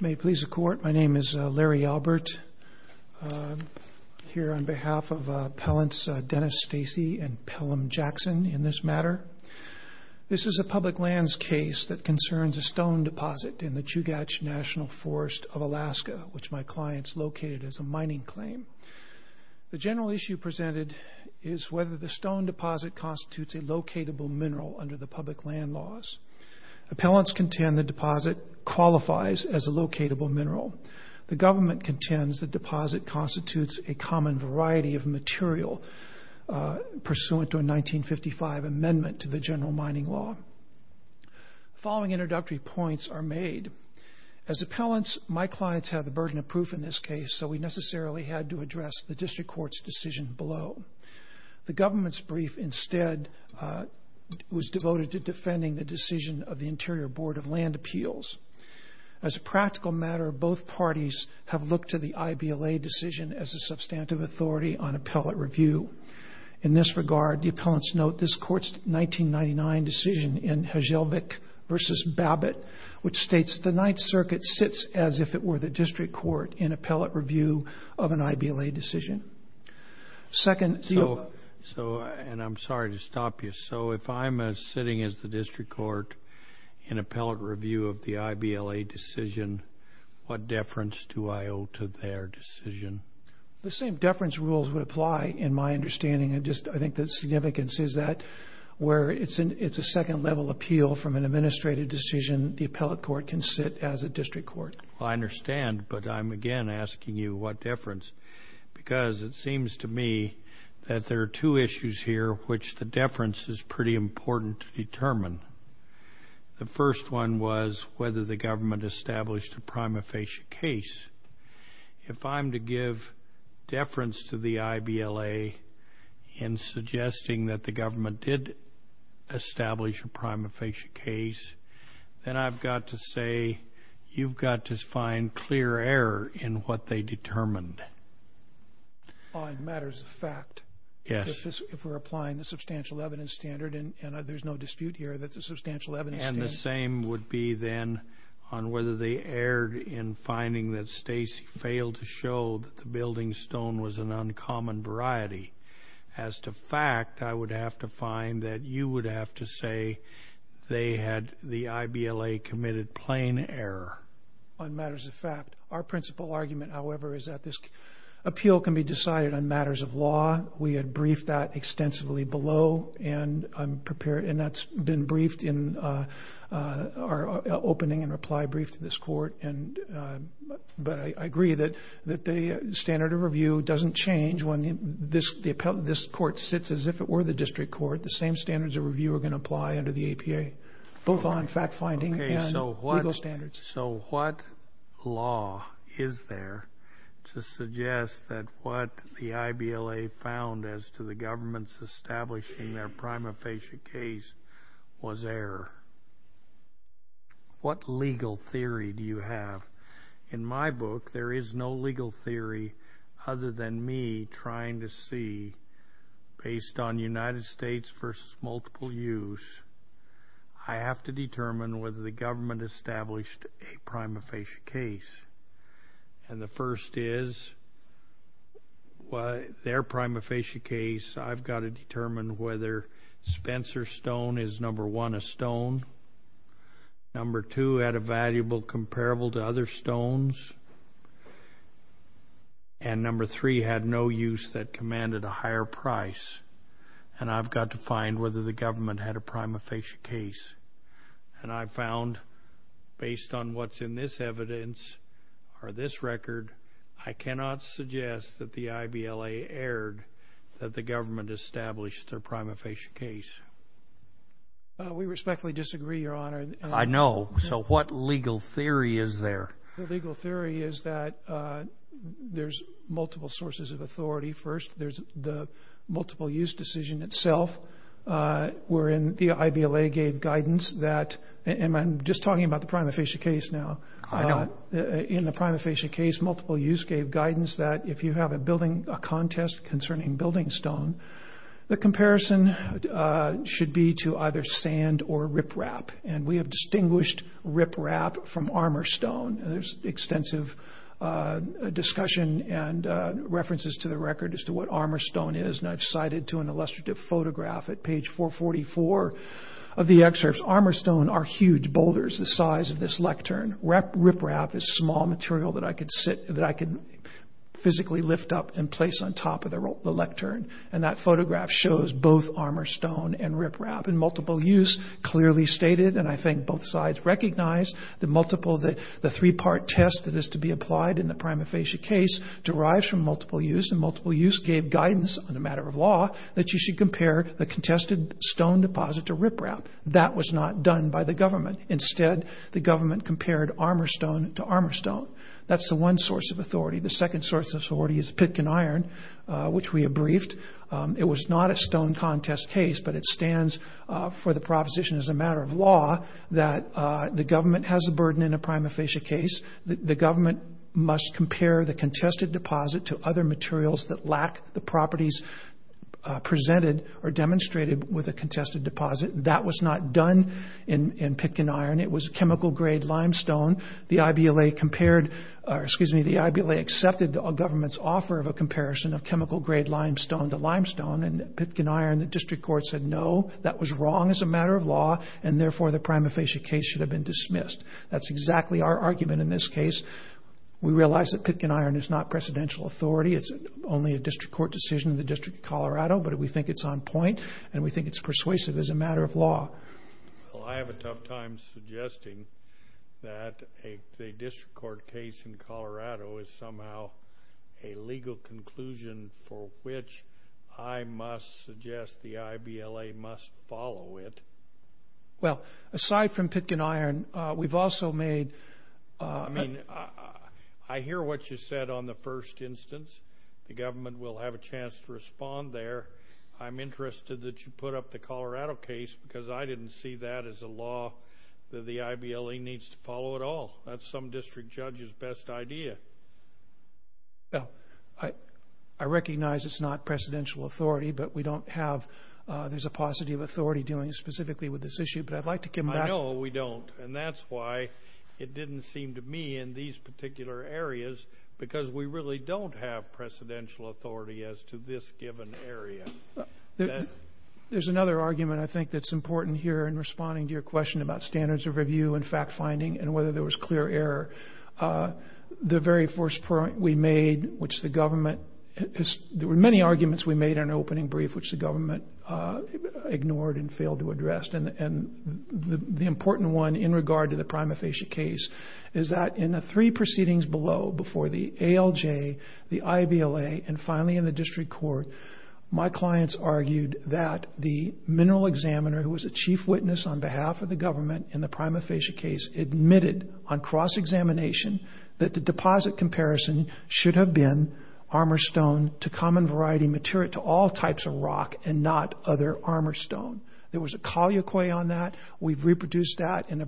May it please the Court, my name is Larry Albert, here on behalf of appellants Dennis Stacey and Pelham Jackson in this matter. This is a public lands case that concerns a stone deposit in the Chugach National Forest of Alaska, which my client has located as a mining claim. The general issue presented is whether the stone deposit constitutes a deposit qualifies as a locatable mineral. The government contends the deposit constitutes a common variety of material pursuant to a 1955 amendment to the general mining law. Following introductory points are made. As appellants, my clients have the burden of proof in this case, so we necessarily had to address the district court's decision below. The government's brief instead was devoted to defending the decision of the Interior Board of Land Appeals. As a practical matter, both parties have looked to the I.B.L.A. decision as a substantive authority on appellate review. In this regard, the appellants note this Court's 1999 decision in Hjelvik v. Babbitt, which states the Ninth Circuit sits as if it were the district court in appellate review of an I.B.L.A. decision. So, and I'm sorry to stop you. So, if I'm sitting as the district court in appellate review of the I.B.L.A. decision, what deference do I owe to their decision? The same deference rules would apply in my understanding. I think the significance is that where it's a second level appeal from an administrative decision, the appellate court can sit as a district court. Well, I understand, but I'm again asking you what deference, because it seems to me that there are two issues here which the deference is pretty important to determine. The first one was whether the government established a prima facie case. If I'm to give deference to the I.B.L.A. in suggesting that the government did establish a prima facie case, then I've got to say you've got to find clear error in what they determined. On matters of fact. Yes. If we're applying the substantial evidence standard, and there's no dispute here that the substantial evidence standard... And the same would be then on whether they erred in finding that Stacy failed to show that the building stone was an uncommon variety. As to fact, I would have to find that you would have to say they had the I.B.L.A. committed plain error. On matters of fact. Our principal argument, however, is that this appeal can be decided on matters of law. We had briefed that extensively below, and that's been briefed in our opening and reply brief to this court. But I agree that the standard of review doesn't change when this court sits as if it were the district court. The same standards of review are going to apply under the A.P.A., both on fact finding and legal standards. So what law is there to suggest that what the I.B.L.A. found as to the government's establishing their prima facie case was error? What legal theory do you have? In my book, there is no legal theory other than me trying to see, based on United States versus multiple use, I have to determine whether the government established a prima facie case. And the first is their prima facie case, I've got to determine whether Spencer Stone is, number one, a stone. Number two, had a valuable comparable to other stones. And number three, had no use that commanded a higher price. And I've got to find whether the government had a prima facie case. And I found, based on what's in this evidence, or this record, I cannot suggest that the I.B.L.A. erred that the government established their prima facie case. We respectfully disagree, Your Honor. I know. So what legal theory is there? The legal theory is that there's multiple sources of authority. First, there's the multiple use decision itself, wherein the I.B.L.A. gave guidance that, and I'm just talking about the prima facie case now. In the prima facie case, multiple use gave guidance that if you have a contest concerning building stone, the comparison should be to either sand or riprap. And we have distinguished riprap from armor stone. There's extensive discussion and references to the record as to what armor stone is. And I've cited to an illustrative photograph at page 444 of the excerpts, armor stone are huge boulders the size of this lectern. Riprap is small material that I could sit, that I could physically lift up and place on top of the lectern. And that photograph shows both armor stone and riprap. And multiple use clearly stated, and I think both sides recognize, the multiple, the three-part test that is to be applied in the prima facie case derives from multiple use. And multiple use gave guidance on a matter of law that you should compare the contested stone deposit to riprap. That was not done by the government. Instead, the government compared armor stone to armor stone. That's the one source of authority. The second source of authority is pitkin iron, which we have briefed. It was not a stone contest case, but it stands for the proposition as a matter of law that the government has a burden in a prima facie case. The government must compare the contested deposit to other materials that lack the properties presented or demonstrated with a contested deposit. That was not done in pitkin iron. It was chemical grade limestone. The IBLA compared, excuse me, the IBLA accepted the government's offer of a comparison of chemical grade limestone to limestone. And pitkin iron, the district court said, no, that was wrong as a matter of law. And therefore, the prima facie case should have been dismissed. That's exactly our argument in this case. We realize that pitkin iron is not presidential authority. It's only a district court decision in the District of Colorado, but we think it's on point. And we think it's persuasive as a matter of law. Well, I have a tough time suggesting that a district court case in Colorado is somehow a legal conclusion for which I must suggest the IBLA must follow it. Well, aside from pitkin iron, we've also made... I mean, I hear what you said on the first instance. The government will have a chance to respond there. I'm interested that you put up the Colorado case, because I didn't see that as a law that the IBLA needs to follow at all. That's some district judge's best idea. Well, I recognize it's not presidential authority, but we don't have... there's a paucity of authority dealing specifically with this issue, but I'd like to give... I know we don't. And that's why it didn't seem to me in these particular areas, because we really don't have presidential authority as to this given area. There's another argument, I think, that's important here in responding to your question about standards of review and fact-finding and whether there was clear error. The very first point we made, which the government... there were many arguments we made in our opening brief, which the government ignored and failed to address. And the important one in regard to the prima facie case is that in the three proceedings below, before the ALJ, the IBLA, and finally in the district court, my clients argued that the mineral examiner, who was a chief witness on behalf of the government in the prima facie case, admitted on cross-examination that the deposit comparison should have been armor stone to common variety material to all types of rock and not other armor stone. There was a colloquy on that. We've produced that in the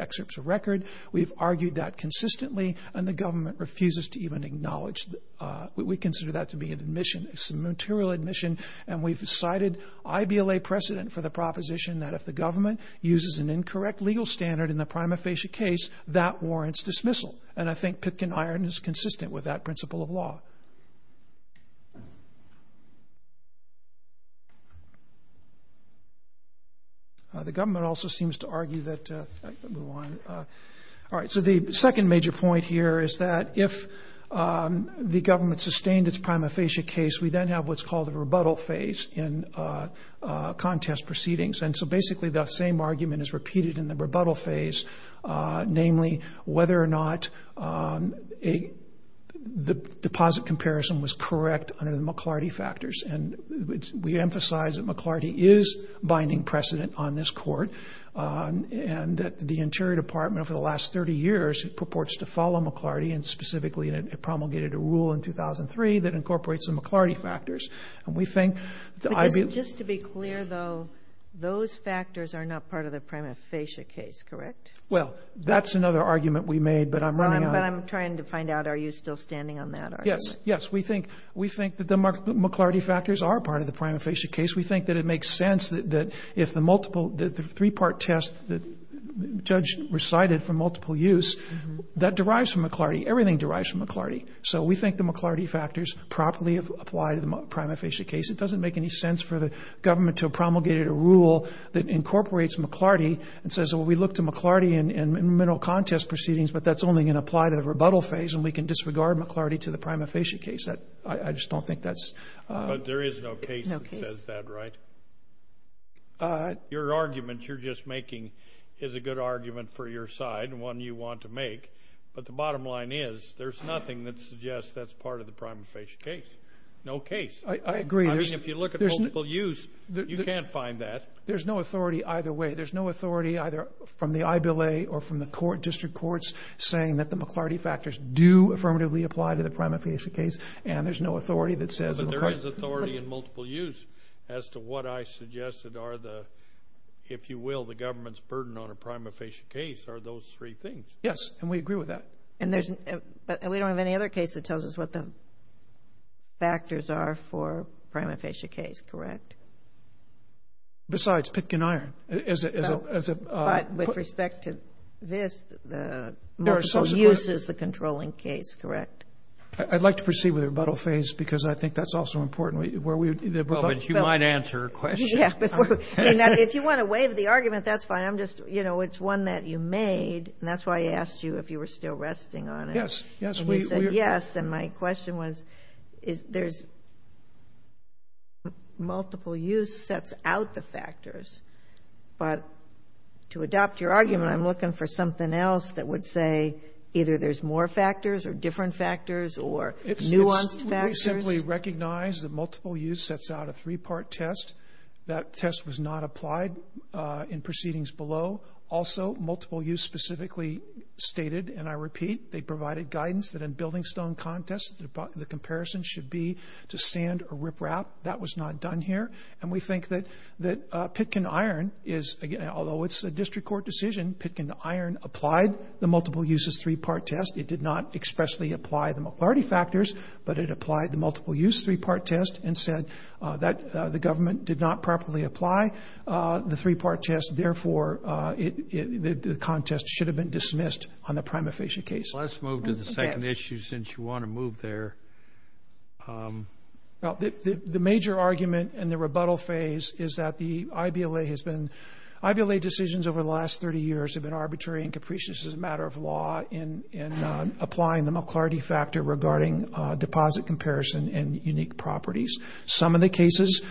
excerpts of record. We've argued that consistently, and the government refuses to even acknowledge that. We consider that to be an admission, a material admission, and we've cited IBLA precedent for the proposition that if the government uses an incorrect legal standard in the prima facie case, that warrants dismissal. And I think Pitkin Iron is consistent with that principle of law. The government also seems to argue that... All right, so the second major point here is that if the government sustained its prima facie case, we then have what's called a rebuttal phase in contest proceedings. And so basically, that same the deposit comparison was correct under the McLarty factors. And we emphasize that McLarty is binding precedent on this court, and that the Interior Department for the last 30 years purports to follow McLarty, and specifically promulgated a rule in 2003 that incorporates the McLarty factors. And we think... Just to be clear, though, those factors are not part of the prima facie case, correct? Well, that's another argument we made, but I'm running Yes. Yes. We think that the McLarty factors are part of the prima facie case. We think that it makes sense that if the multiple, the three-part test that the judge recited for multiple use, that derives from McLarty. Everything derives from McLarty. So we think the McLarty factors properly apply to the prima facie case. It doesn't make any sense for the government to have promulgated a rule that incorporates McLarty and says, well, we look to McLarty in mineral contest proceedings, but that's only going to apply to the rebuttal phase, and we can disregard McLarty to the prima facie case. I just don't think that's... But there is no case that says that, right? Your argument you're just making is a good argument for your side, one you want to make. But the bottom line is, there's nothing that suggests that's part of the prima facie case. No case. I agree. I mean, if you look at multiple use, you can't find that. There's no authority either way. There's no authority either from the I.B.L.A. or from the court, district courts, saying that the McLarty factors do affirmatively apply to the prima facie case, and there's no authority that says... But there is authority in multiple use as to what I suggested are the, if you will, the government's burden on a prima facie case are those three things. Yes, and we agree with that. And we don't have any other case that tells us what the factors are for prima facie case, correct? Besides Pitkin-Iron as a... But with respect to this, the multiple use is the controlling case, correct? I'd like to proceed with the rebuttal phase because I think that's also important where we... Well, but you might answer a question. Yeah, but if you want to waive the argument, that's fine. I'm just, you know, it's one that you made, and that's why I asked you if you were still resting on it. Yes, yes. You said yes, and my question was, is there's... Multiple use sets out the factors, but to adopt your argument, I'm looking for something else that would say either there's more factors or different factors or nuanced factors. We simply recognize that multiple use sets out a three-part test. That test was not applied in proceedings below. Also, multiple use specifically stated, and I repeat, they provided guidance that in building stone contest, the comparison should be to sand or riprap. That was not done here. And we think that Pitkin-Iron is, although it's a district court decision, Pitkin-Iron applied the multiple uses three-part test. It did not expressly apply the majority factors, but it applied the multiple use three-part test and said that the government did not properly apply the three-part test, therefore the contest should have been dismissed on the prima facie case. Let's move to the second issue since you want to move there. The major argument in the rebuttal phase is that the IVLA has been... IVLA decisions over the last 30 years have been arbitrary and capricious as a matter of law in applying the McLarty factor regarding deposit comparison and unique properties. Some of the cases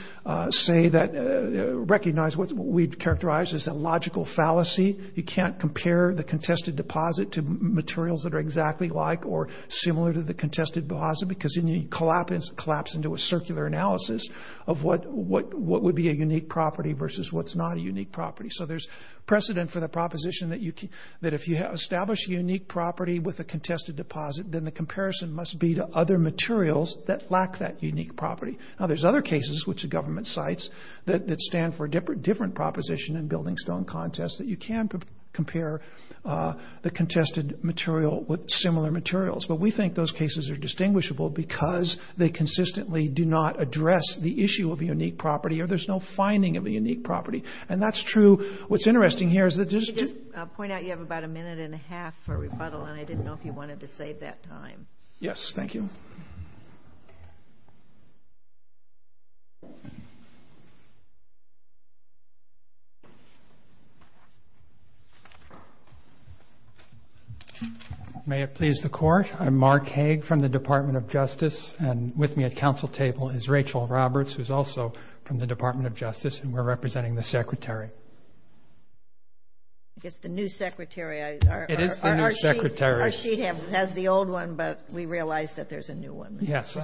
say that recognize what we've characterized as a logical fallacy. You can't compare the contested deposit to materials that are exactly like or similar to the contested deposit because then you collapse into a circular analysis of what would be a unique property versus what's not a unique property. So there's precedent for the proposition that if you establish a unique property with a contested deposit, then the comparison must be to other materials that lack that unique property. Now, there's other cases, which the government cites, that stand for a different proposition in building stone contests that you can compare the contested material with similar materials. But we think those cases are distinguishable because they consistently do not address the issue of a unique property or there's no finding of a unique property. And that's true. What's interesting here is that... I'll just point out you have about a minute and a half for rebuttal, and I didn't know if you wanted to save that time. Yes, thank you. May it please the Court. I'm Mark Haag from the Department of Justice, and with me at council table is Rachel Roberts, who's also from the Department of Justice, and we're representing the Secretary. It's the new Secretary. It is the new Secretary. Our sheet has the old one, but we realize that there's a new one. Yes.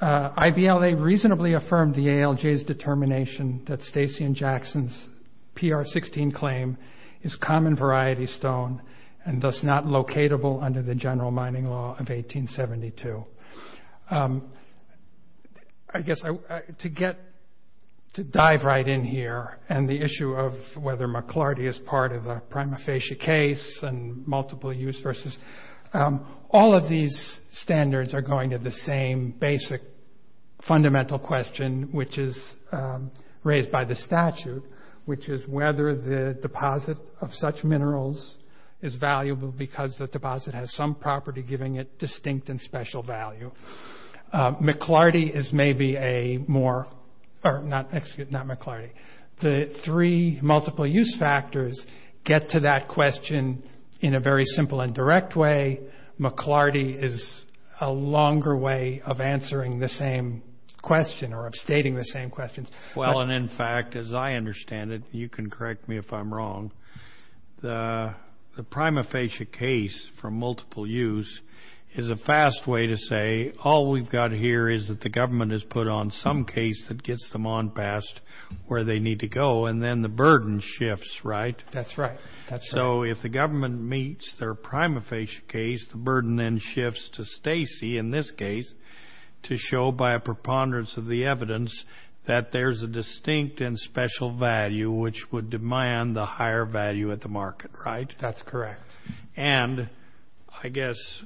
IBLA reasonably affirmed the ALJ's determination that Stacey and Jackson's PR-16 claim is common variety stone and thus not locatable under the general mining law of 1872. I guess to dive right in here and the issue of whether McLarty is part of a prima facie case and multiple use versus, all of these standards are going to the same basic fundamental question, which is raised by the statute, which is whether the deposit of such minerals is valuable because the deposit has some property giving it distinct and special value. McLarty is maybe a more or not McLarty. The three multiple use factors get to that question in a very simple and direct way. McLarty is a longer way of answering the same question or of stating the same questions. Well, and in fact, as I understand it, you can correct me if I'm wrong, the prima facie case for multiple use is a fast way to say all we've got here is that the government has put on some case that gets them on past where they need to go and then the burden shifts, right? That's right. So if the government meets their prima facie case, the burden then shifts to Stacey in this case to show by a preponderance of the evidence that there's a distinct and special value which would demand the higher value at the market, right? That's correct. And I guess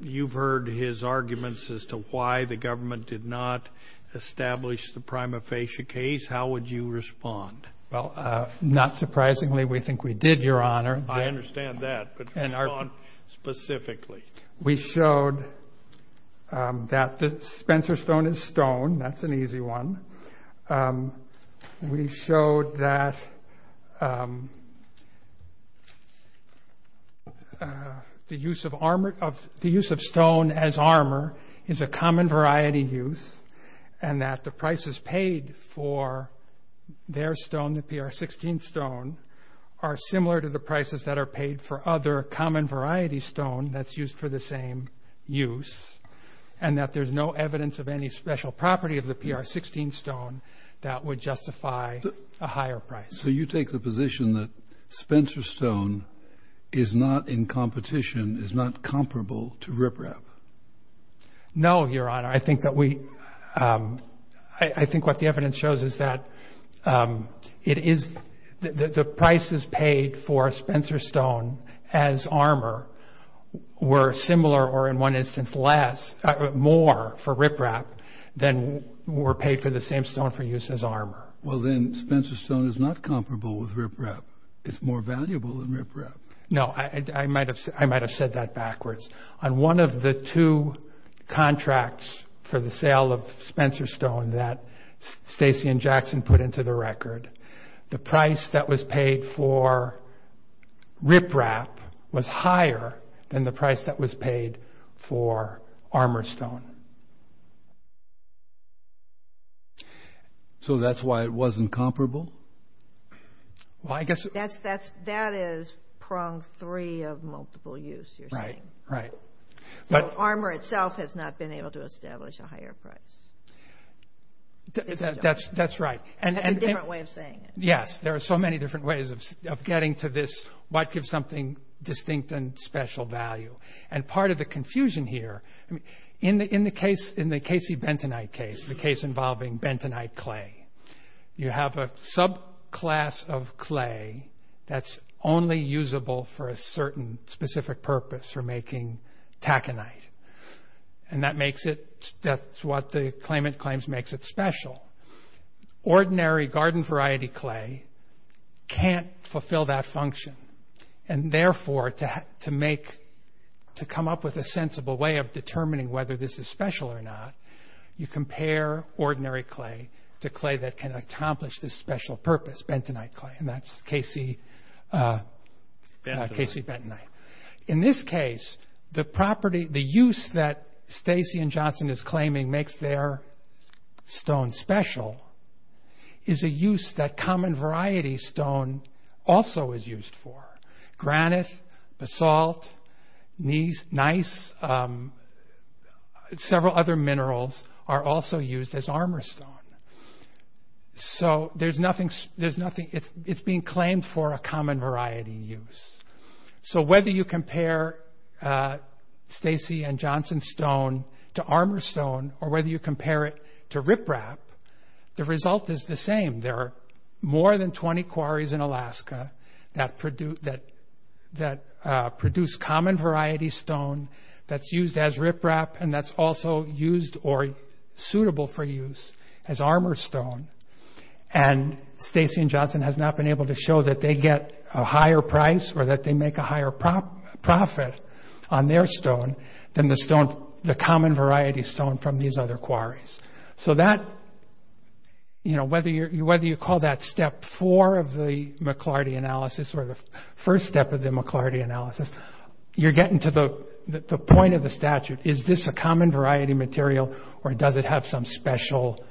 you've heard his arguments as to why the government did not establish the prima facie case. How would you respond? Well, not surprisingly, we think we did, Your Honor. I understand that, but respond specifically. We showed that the Spencer stone is stone. That's an easy one. We showed that the use of stone as armor is a common variety use and that the prices paid for their stone, the PR 16 stone, are similar to the prices that are paid for other common variety stone that's used for the same use and that there's no evidence of any special property of the PR 16 stone that would justify a higher price. So you take the position that Spencer stone is not in competition, is not comparable to riprap? No, Your Honor. I think what the evidence shows is that the prices paid for Spencer stone as armor were similar or in one instance more for riprap than were paid for the same stone for use as armor. Well, then Spencer stone is not comparable with riprap. It's more valuable than riprap. No, I might have said that backwards. On one of the two contracts for the sale of Spencer stone that Stacy and Jackson put into the record, the price that was paid for riprap was higher than the price that was paid for armor stone. So that's why it wasn't comparable? That is prong three of multiple use, you're saying. Right, right. So armor itself has not been able to establish a higher price. That's right. That's a different way of saying it. Yes, there are so many different ways of getting to this what gives something distinct and special value. And part of the confusion here, in the Casey Bentonite case, the case involving Bentonite clay, you have a subclass of clay that's only usable for a certain specific purpose for making taconite. And that's what the claimant claims makes it special. Ordinary garden variety clay can't fulfill that function. And therefore, to come up with a sensible way of determining whether this is special or not, you compare ordinary clay to clay that can accomplish this special purpose, Bentonite clay. And that's Casey Bentonite. In this case, the use that Stacy and Johnson is claiming makes their stone special is a use that common variety stone also is used for. Granite, basalt, nice, several other minerals are also used as armor stone. So there's nothing, it's being claimed for a common variety use. So whether you compare Stacy and Johnson stone to armor stone or whether you compare it to riprap, the result is the same. There are more than 20 quarries in Alaska that produce common variety stone that's used as riprap and that's also used or suitable for use as armor stone. And Stacy and Johnson has not been able to show that they get a higher price or that they make a higher profit on their stone than the common variety stone from these other quarries. So that, you know, whether you call that step four of the McLarty analysis or the first step of the McLarty analysis, you're getting to the point of the statute. Is this a common variety material or does it have some special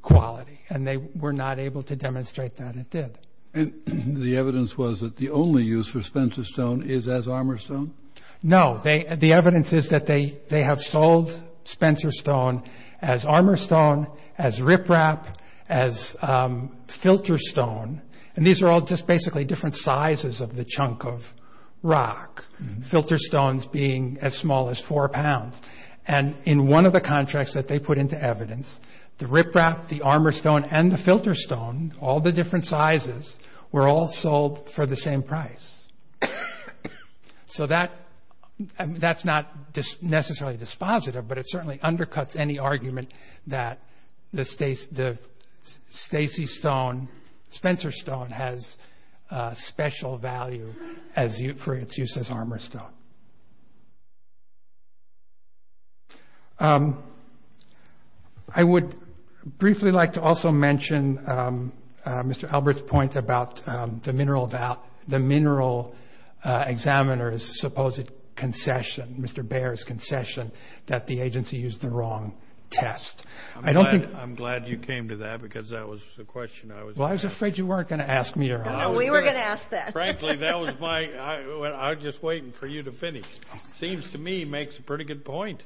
quality? And they were not able to demonstrate that it did. The evidence was that the only use for Spencer stone is as armor stone? No. The evidence is that they have sold Spencer stone as armor stone, as riprap, as filter stone. And these are all just basically different sizes of the chunk of rock, filter stones being as small as four pounds. And in one of the contracts that they put into evidence, the riprap, the armor stone, and the filter stone, all the different sizes, were all sold for the same price. So that's not necessarily dispositive, but it certainly undercuts any argument that the Stacy stone, Spencer stone, has special value for its use as armor stone. I would briefly like to also mention Mr. Albert's point about the mineral examiner's supposed concession, Mr. Baer's concession, that the agency used the wrong test. I'm glad you came to that because that was the question I was going to ask. Well, I was afraid you weren't going to ask me. No, we were going to ask that. Frankly, I was just waiting for you to finish. Seems to me he makes a pretty good point.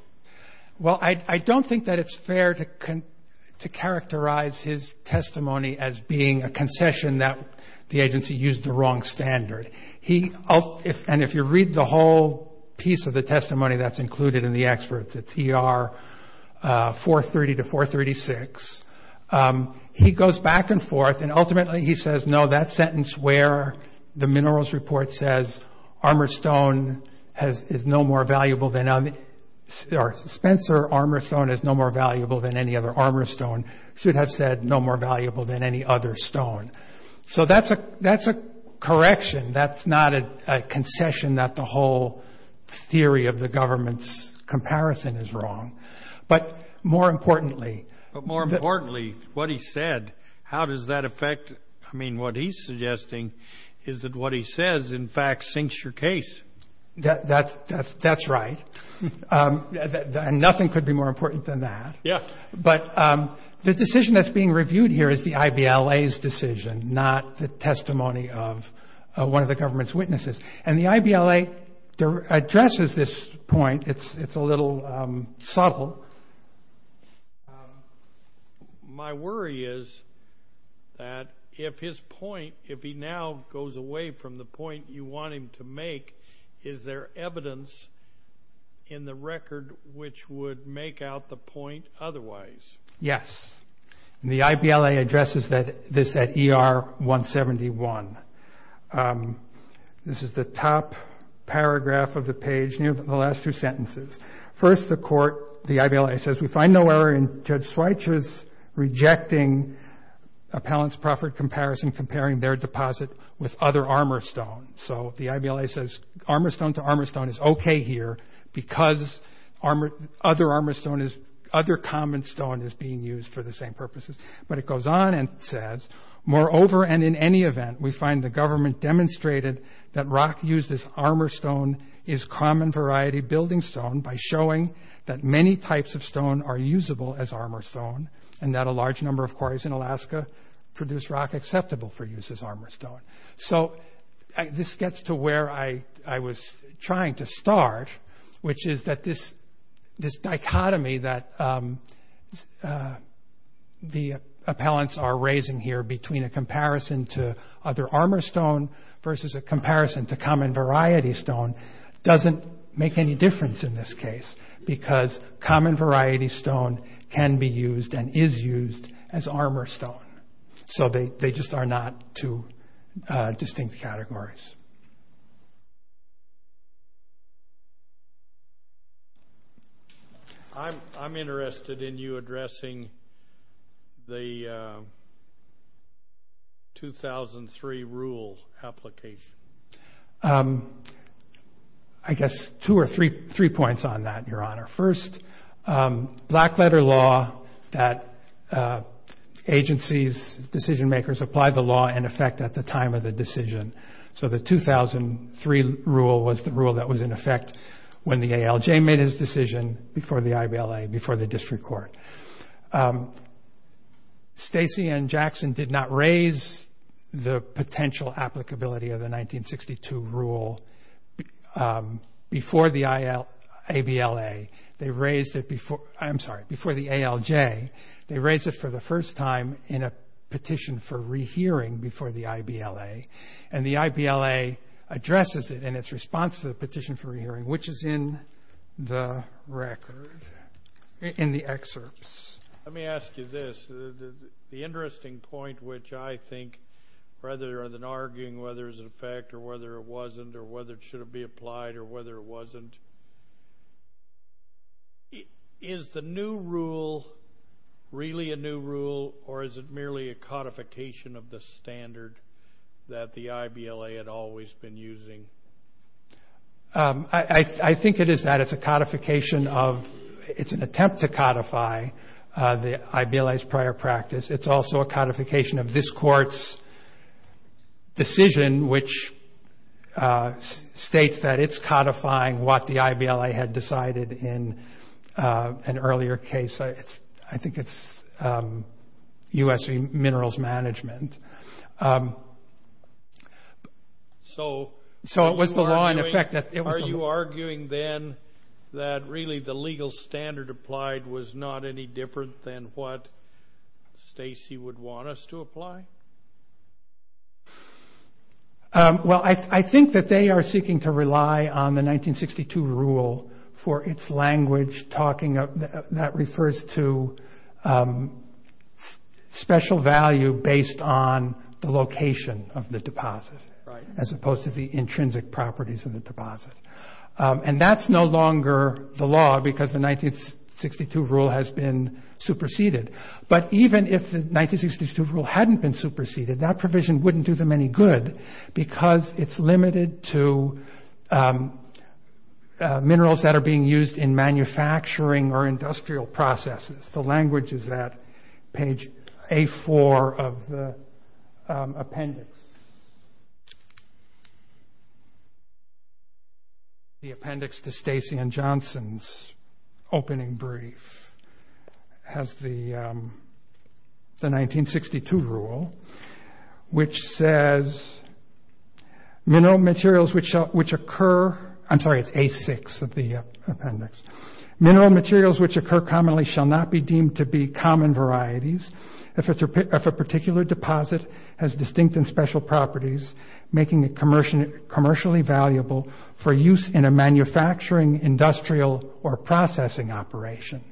Well, I don't think that it's fair to characterize his testimony as being a concession that the agency used the wrong standard. And if you read the whole piece of the testimony that's included in the experts, it's ER 430 to 436, he goes back and forth and ultimately he says, no, that sentence where the minerals report says armor stone is no more valuable than, or Spencer armor stone is no more valuable than any other armor stone, should have said no more valuable than any other stone. So that's a correction. That's not a concession that the whole theory of the government's comparison is wrong. But more importantly- But more importantly, what he said, how does that affect, I mean, what he's suggesting is that what he says, in fact, sinks your case. That's right. And nothing could be more important than that. Yeah. But the decision that's being reviewed here is the IBLA's decision, not the testimony of one of the government's witnesses. And the IBLA addresses this point. It's a little subtle. My worry is that if his point, if he now goes away from the point you want him to make, is there evidence in the record which would make out the point otherwise? Yes. And the IBLA addresses this at ER 171. This is the top paragraph of the page near the last two sentences. First, the court, the IBLA says, we find no error in Judge Schweitzer's rejecting Appellant's Proffert comparison, comparing their deposit with other armor stone. So the IBLA says armor stone to armor stone is okay here because other common stone is being used for the same purposes. But it goes on and says, moreover and in any event we find the government demonstrated that rock used as armor stone is common variety building stone by showing that many types of stone are usable as armor stone and that a large number of quarries in Alaska produce rock acceptable for use as armor stone. So this gets to where I was trying to start, which is that this dichotomy that the appellants are raising here between a comparison to other armor stone versus a comparison to common variety stone doesn't make any difference in this case because common variety stone can be used and is used as armor stone. So they just are not two distinct categories. I'm interested in you addressing the 2003 rule application. I guess two or three points on that, Your Honor. First, black letter law that agencies, decision makers, apply the law in effect at the time of the decision so the 2003 rule was the rule that was in effect when the ALJ made his decision before the IBLA, before the district court. Stacey and Jackson did not raise the potential applicability of the 1962 rule before the ABLA. They raised it before the ALJ. They raised it for the first time in a petition for rehearing before the IBLA and the IBLA addresses it in its response to the petition for rehearing, which is in the record, in the excerpts. Let me ask you this. The interesting point, which I think rather than arguing whether it was in effect or whether it wasn't or whether it should be applied or whether it wasn't, is the new rule really a new rule or is it merely a codification of the standard that the IBLA had always been using? I think it is that. It's a codification of, it's an attempt to codify the IBLA's prior practice. It's also a codification of this court's decision, which states that it's codifying what the IBLA had decided in an earlier case. I think it's U.S. Minerals Management. So it was the law in effect. Are you arguing then that really the legal standard applied was not any different than what Stacy would want us to apply? Well, I think that they are seeking to rely on the 1962 rule for its language talking that refers to special value based on the location of the deposit as opposed to the intrinsic properties of the deposit. And that's no longer the law because the 1962 rule has been superseded. But even if the 1962 rule hadn't been superseded, that provision wouldn't do them any good because it's limited to minerals that are being used in manufacturing or industrial processes. The language is at page A4 of the appendix. The appendix to Stacy and Johnson's opening brief has the 1962 rule, which says, I'm sorry, it's A6 of the appendix. Mineral materials which occur commonly shall not be deemed to be common varieties if a particular deposit has distinct and special properties making it commercially valuable for use in a manufacturing, industrial, or processing operation.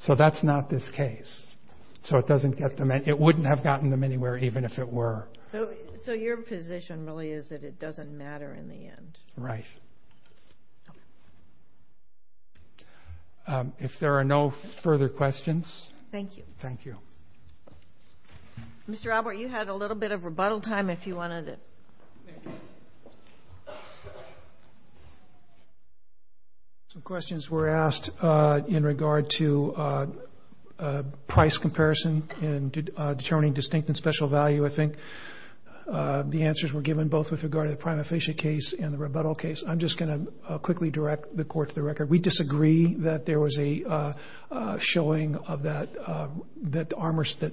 So that's not this case. It wouldn't have gotten them anywhere even if it were. So your position really is that it doesn't matter in the end. Right. If there are no further questions. Thank you. Thank you. Mr. Albert, you had a little bit of rebuttal time if you wanted to. Thank you. Some questions were asked in regard to price comparison and determining distinct and special value, I think. The answers were given both with regard to the prima facie case and the rebuttal case. I'm just going to quickly direct the court to the record. We disagree that there was a showing of that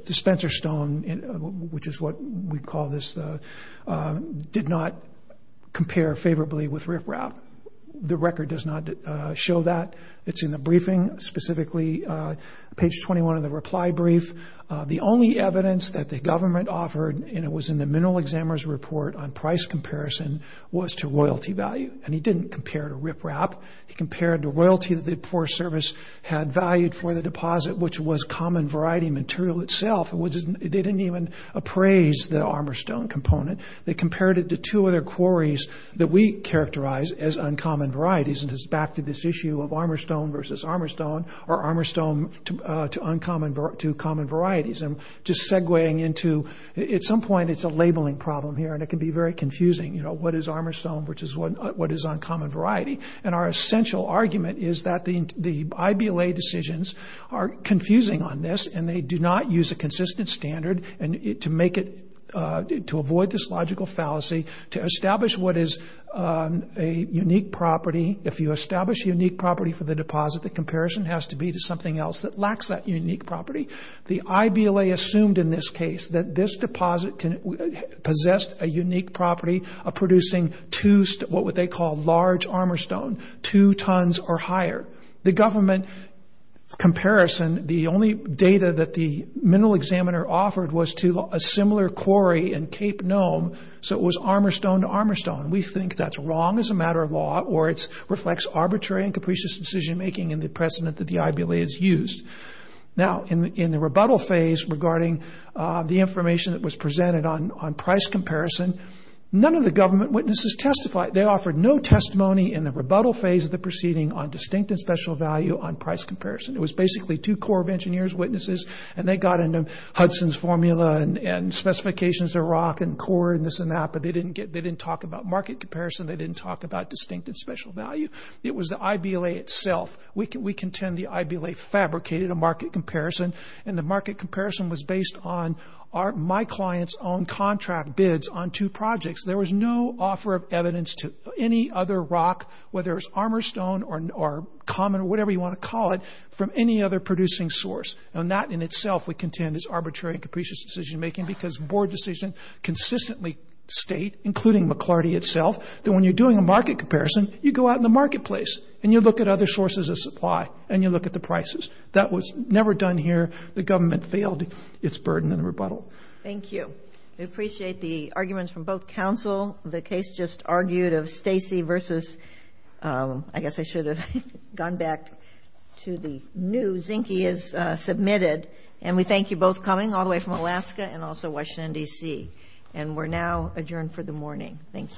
dispenser stone, which is what we call this, did not compare favorably with riprap. The record does not show that. It's in the briefing, specifically page 21 of the reply brief. The only evidence that the government offered, and it was in the mineral examiner's report on price comparison, was to royalty value. And he didn't compare to riprap. He compared to royalty that the poor service had valued for the deposit, which was common variety material itself. They didn't even appraise the armor stone component. They compared it to two other quarries that we characterize as uncommon varieties, and it's back to this issue of armor stone versus armor stone or armor stone to common varieties. I'm just segueing into at some point it's a labeling problem here, and it can be very confusing, you know, what is armor stone versus what is uncommon variety. And our essential argument is that the IBLA decisions are confusing on this, and they do not use a consistent standard to avoid this logical fallacy to establish what is a unique property. If you establish a unique property for the deposit, the comparison has to be to something else that lacks that unique property. The IBLA assumed in this case that this deposit possessed a unique property of producing what they call large armor stone, two tons or higher. The government comparison, the only data that the mineral examiner offered was to a similar quarry in Cape Nome, so it was armor stone to armor stone. We think that's wrong as a matter of law, or it reflects arbitrary and capricious decision making in the precedent that the IBLA has used. Now, in the rebuttal phase regarding the information that was presented on price comparison, none of the government witnesses testified. They offered no testimony in the rebuttal phase of the proceeding on distinct and special value on price comparison. It was basically two Corps of Engineers witnesses, and they got into Hudson's formula and specifications of rock and core and this and that, but they didn't talk about market comparison. They didn't talk about distinct and special value. It was the IBLA itself. We contend the IBLA fabricated a market comparison, and the market comparison was based on my client's own contract bids on two projects. There was no offer of evidence to any other rock, whether it was armor stone or common or whatever you want to call it, from any other producing source. And that in itself we contend is arbitrary and capricious decision making because board decision consistently state, including McLarty itself, that when you're doing a market comparison, you go out in the marketplace and you look at other sources of supply and you look at the prices. That was never done here. The government failed its burden in the rebuttal. Thank you. We appreciate the arguments from both counsel. The case just argued of Stacy versus, I guess I should have gone back to the news. Zinke is submitted. And we thank you both coming all the way from Alaska and also Washington, D.C. And we're now adjourned for the morning. Thank you.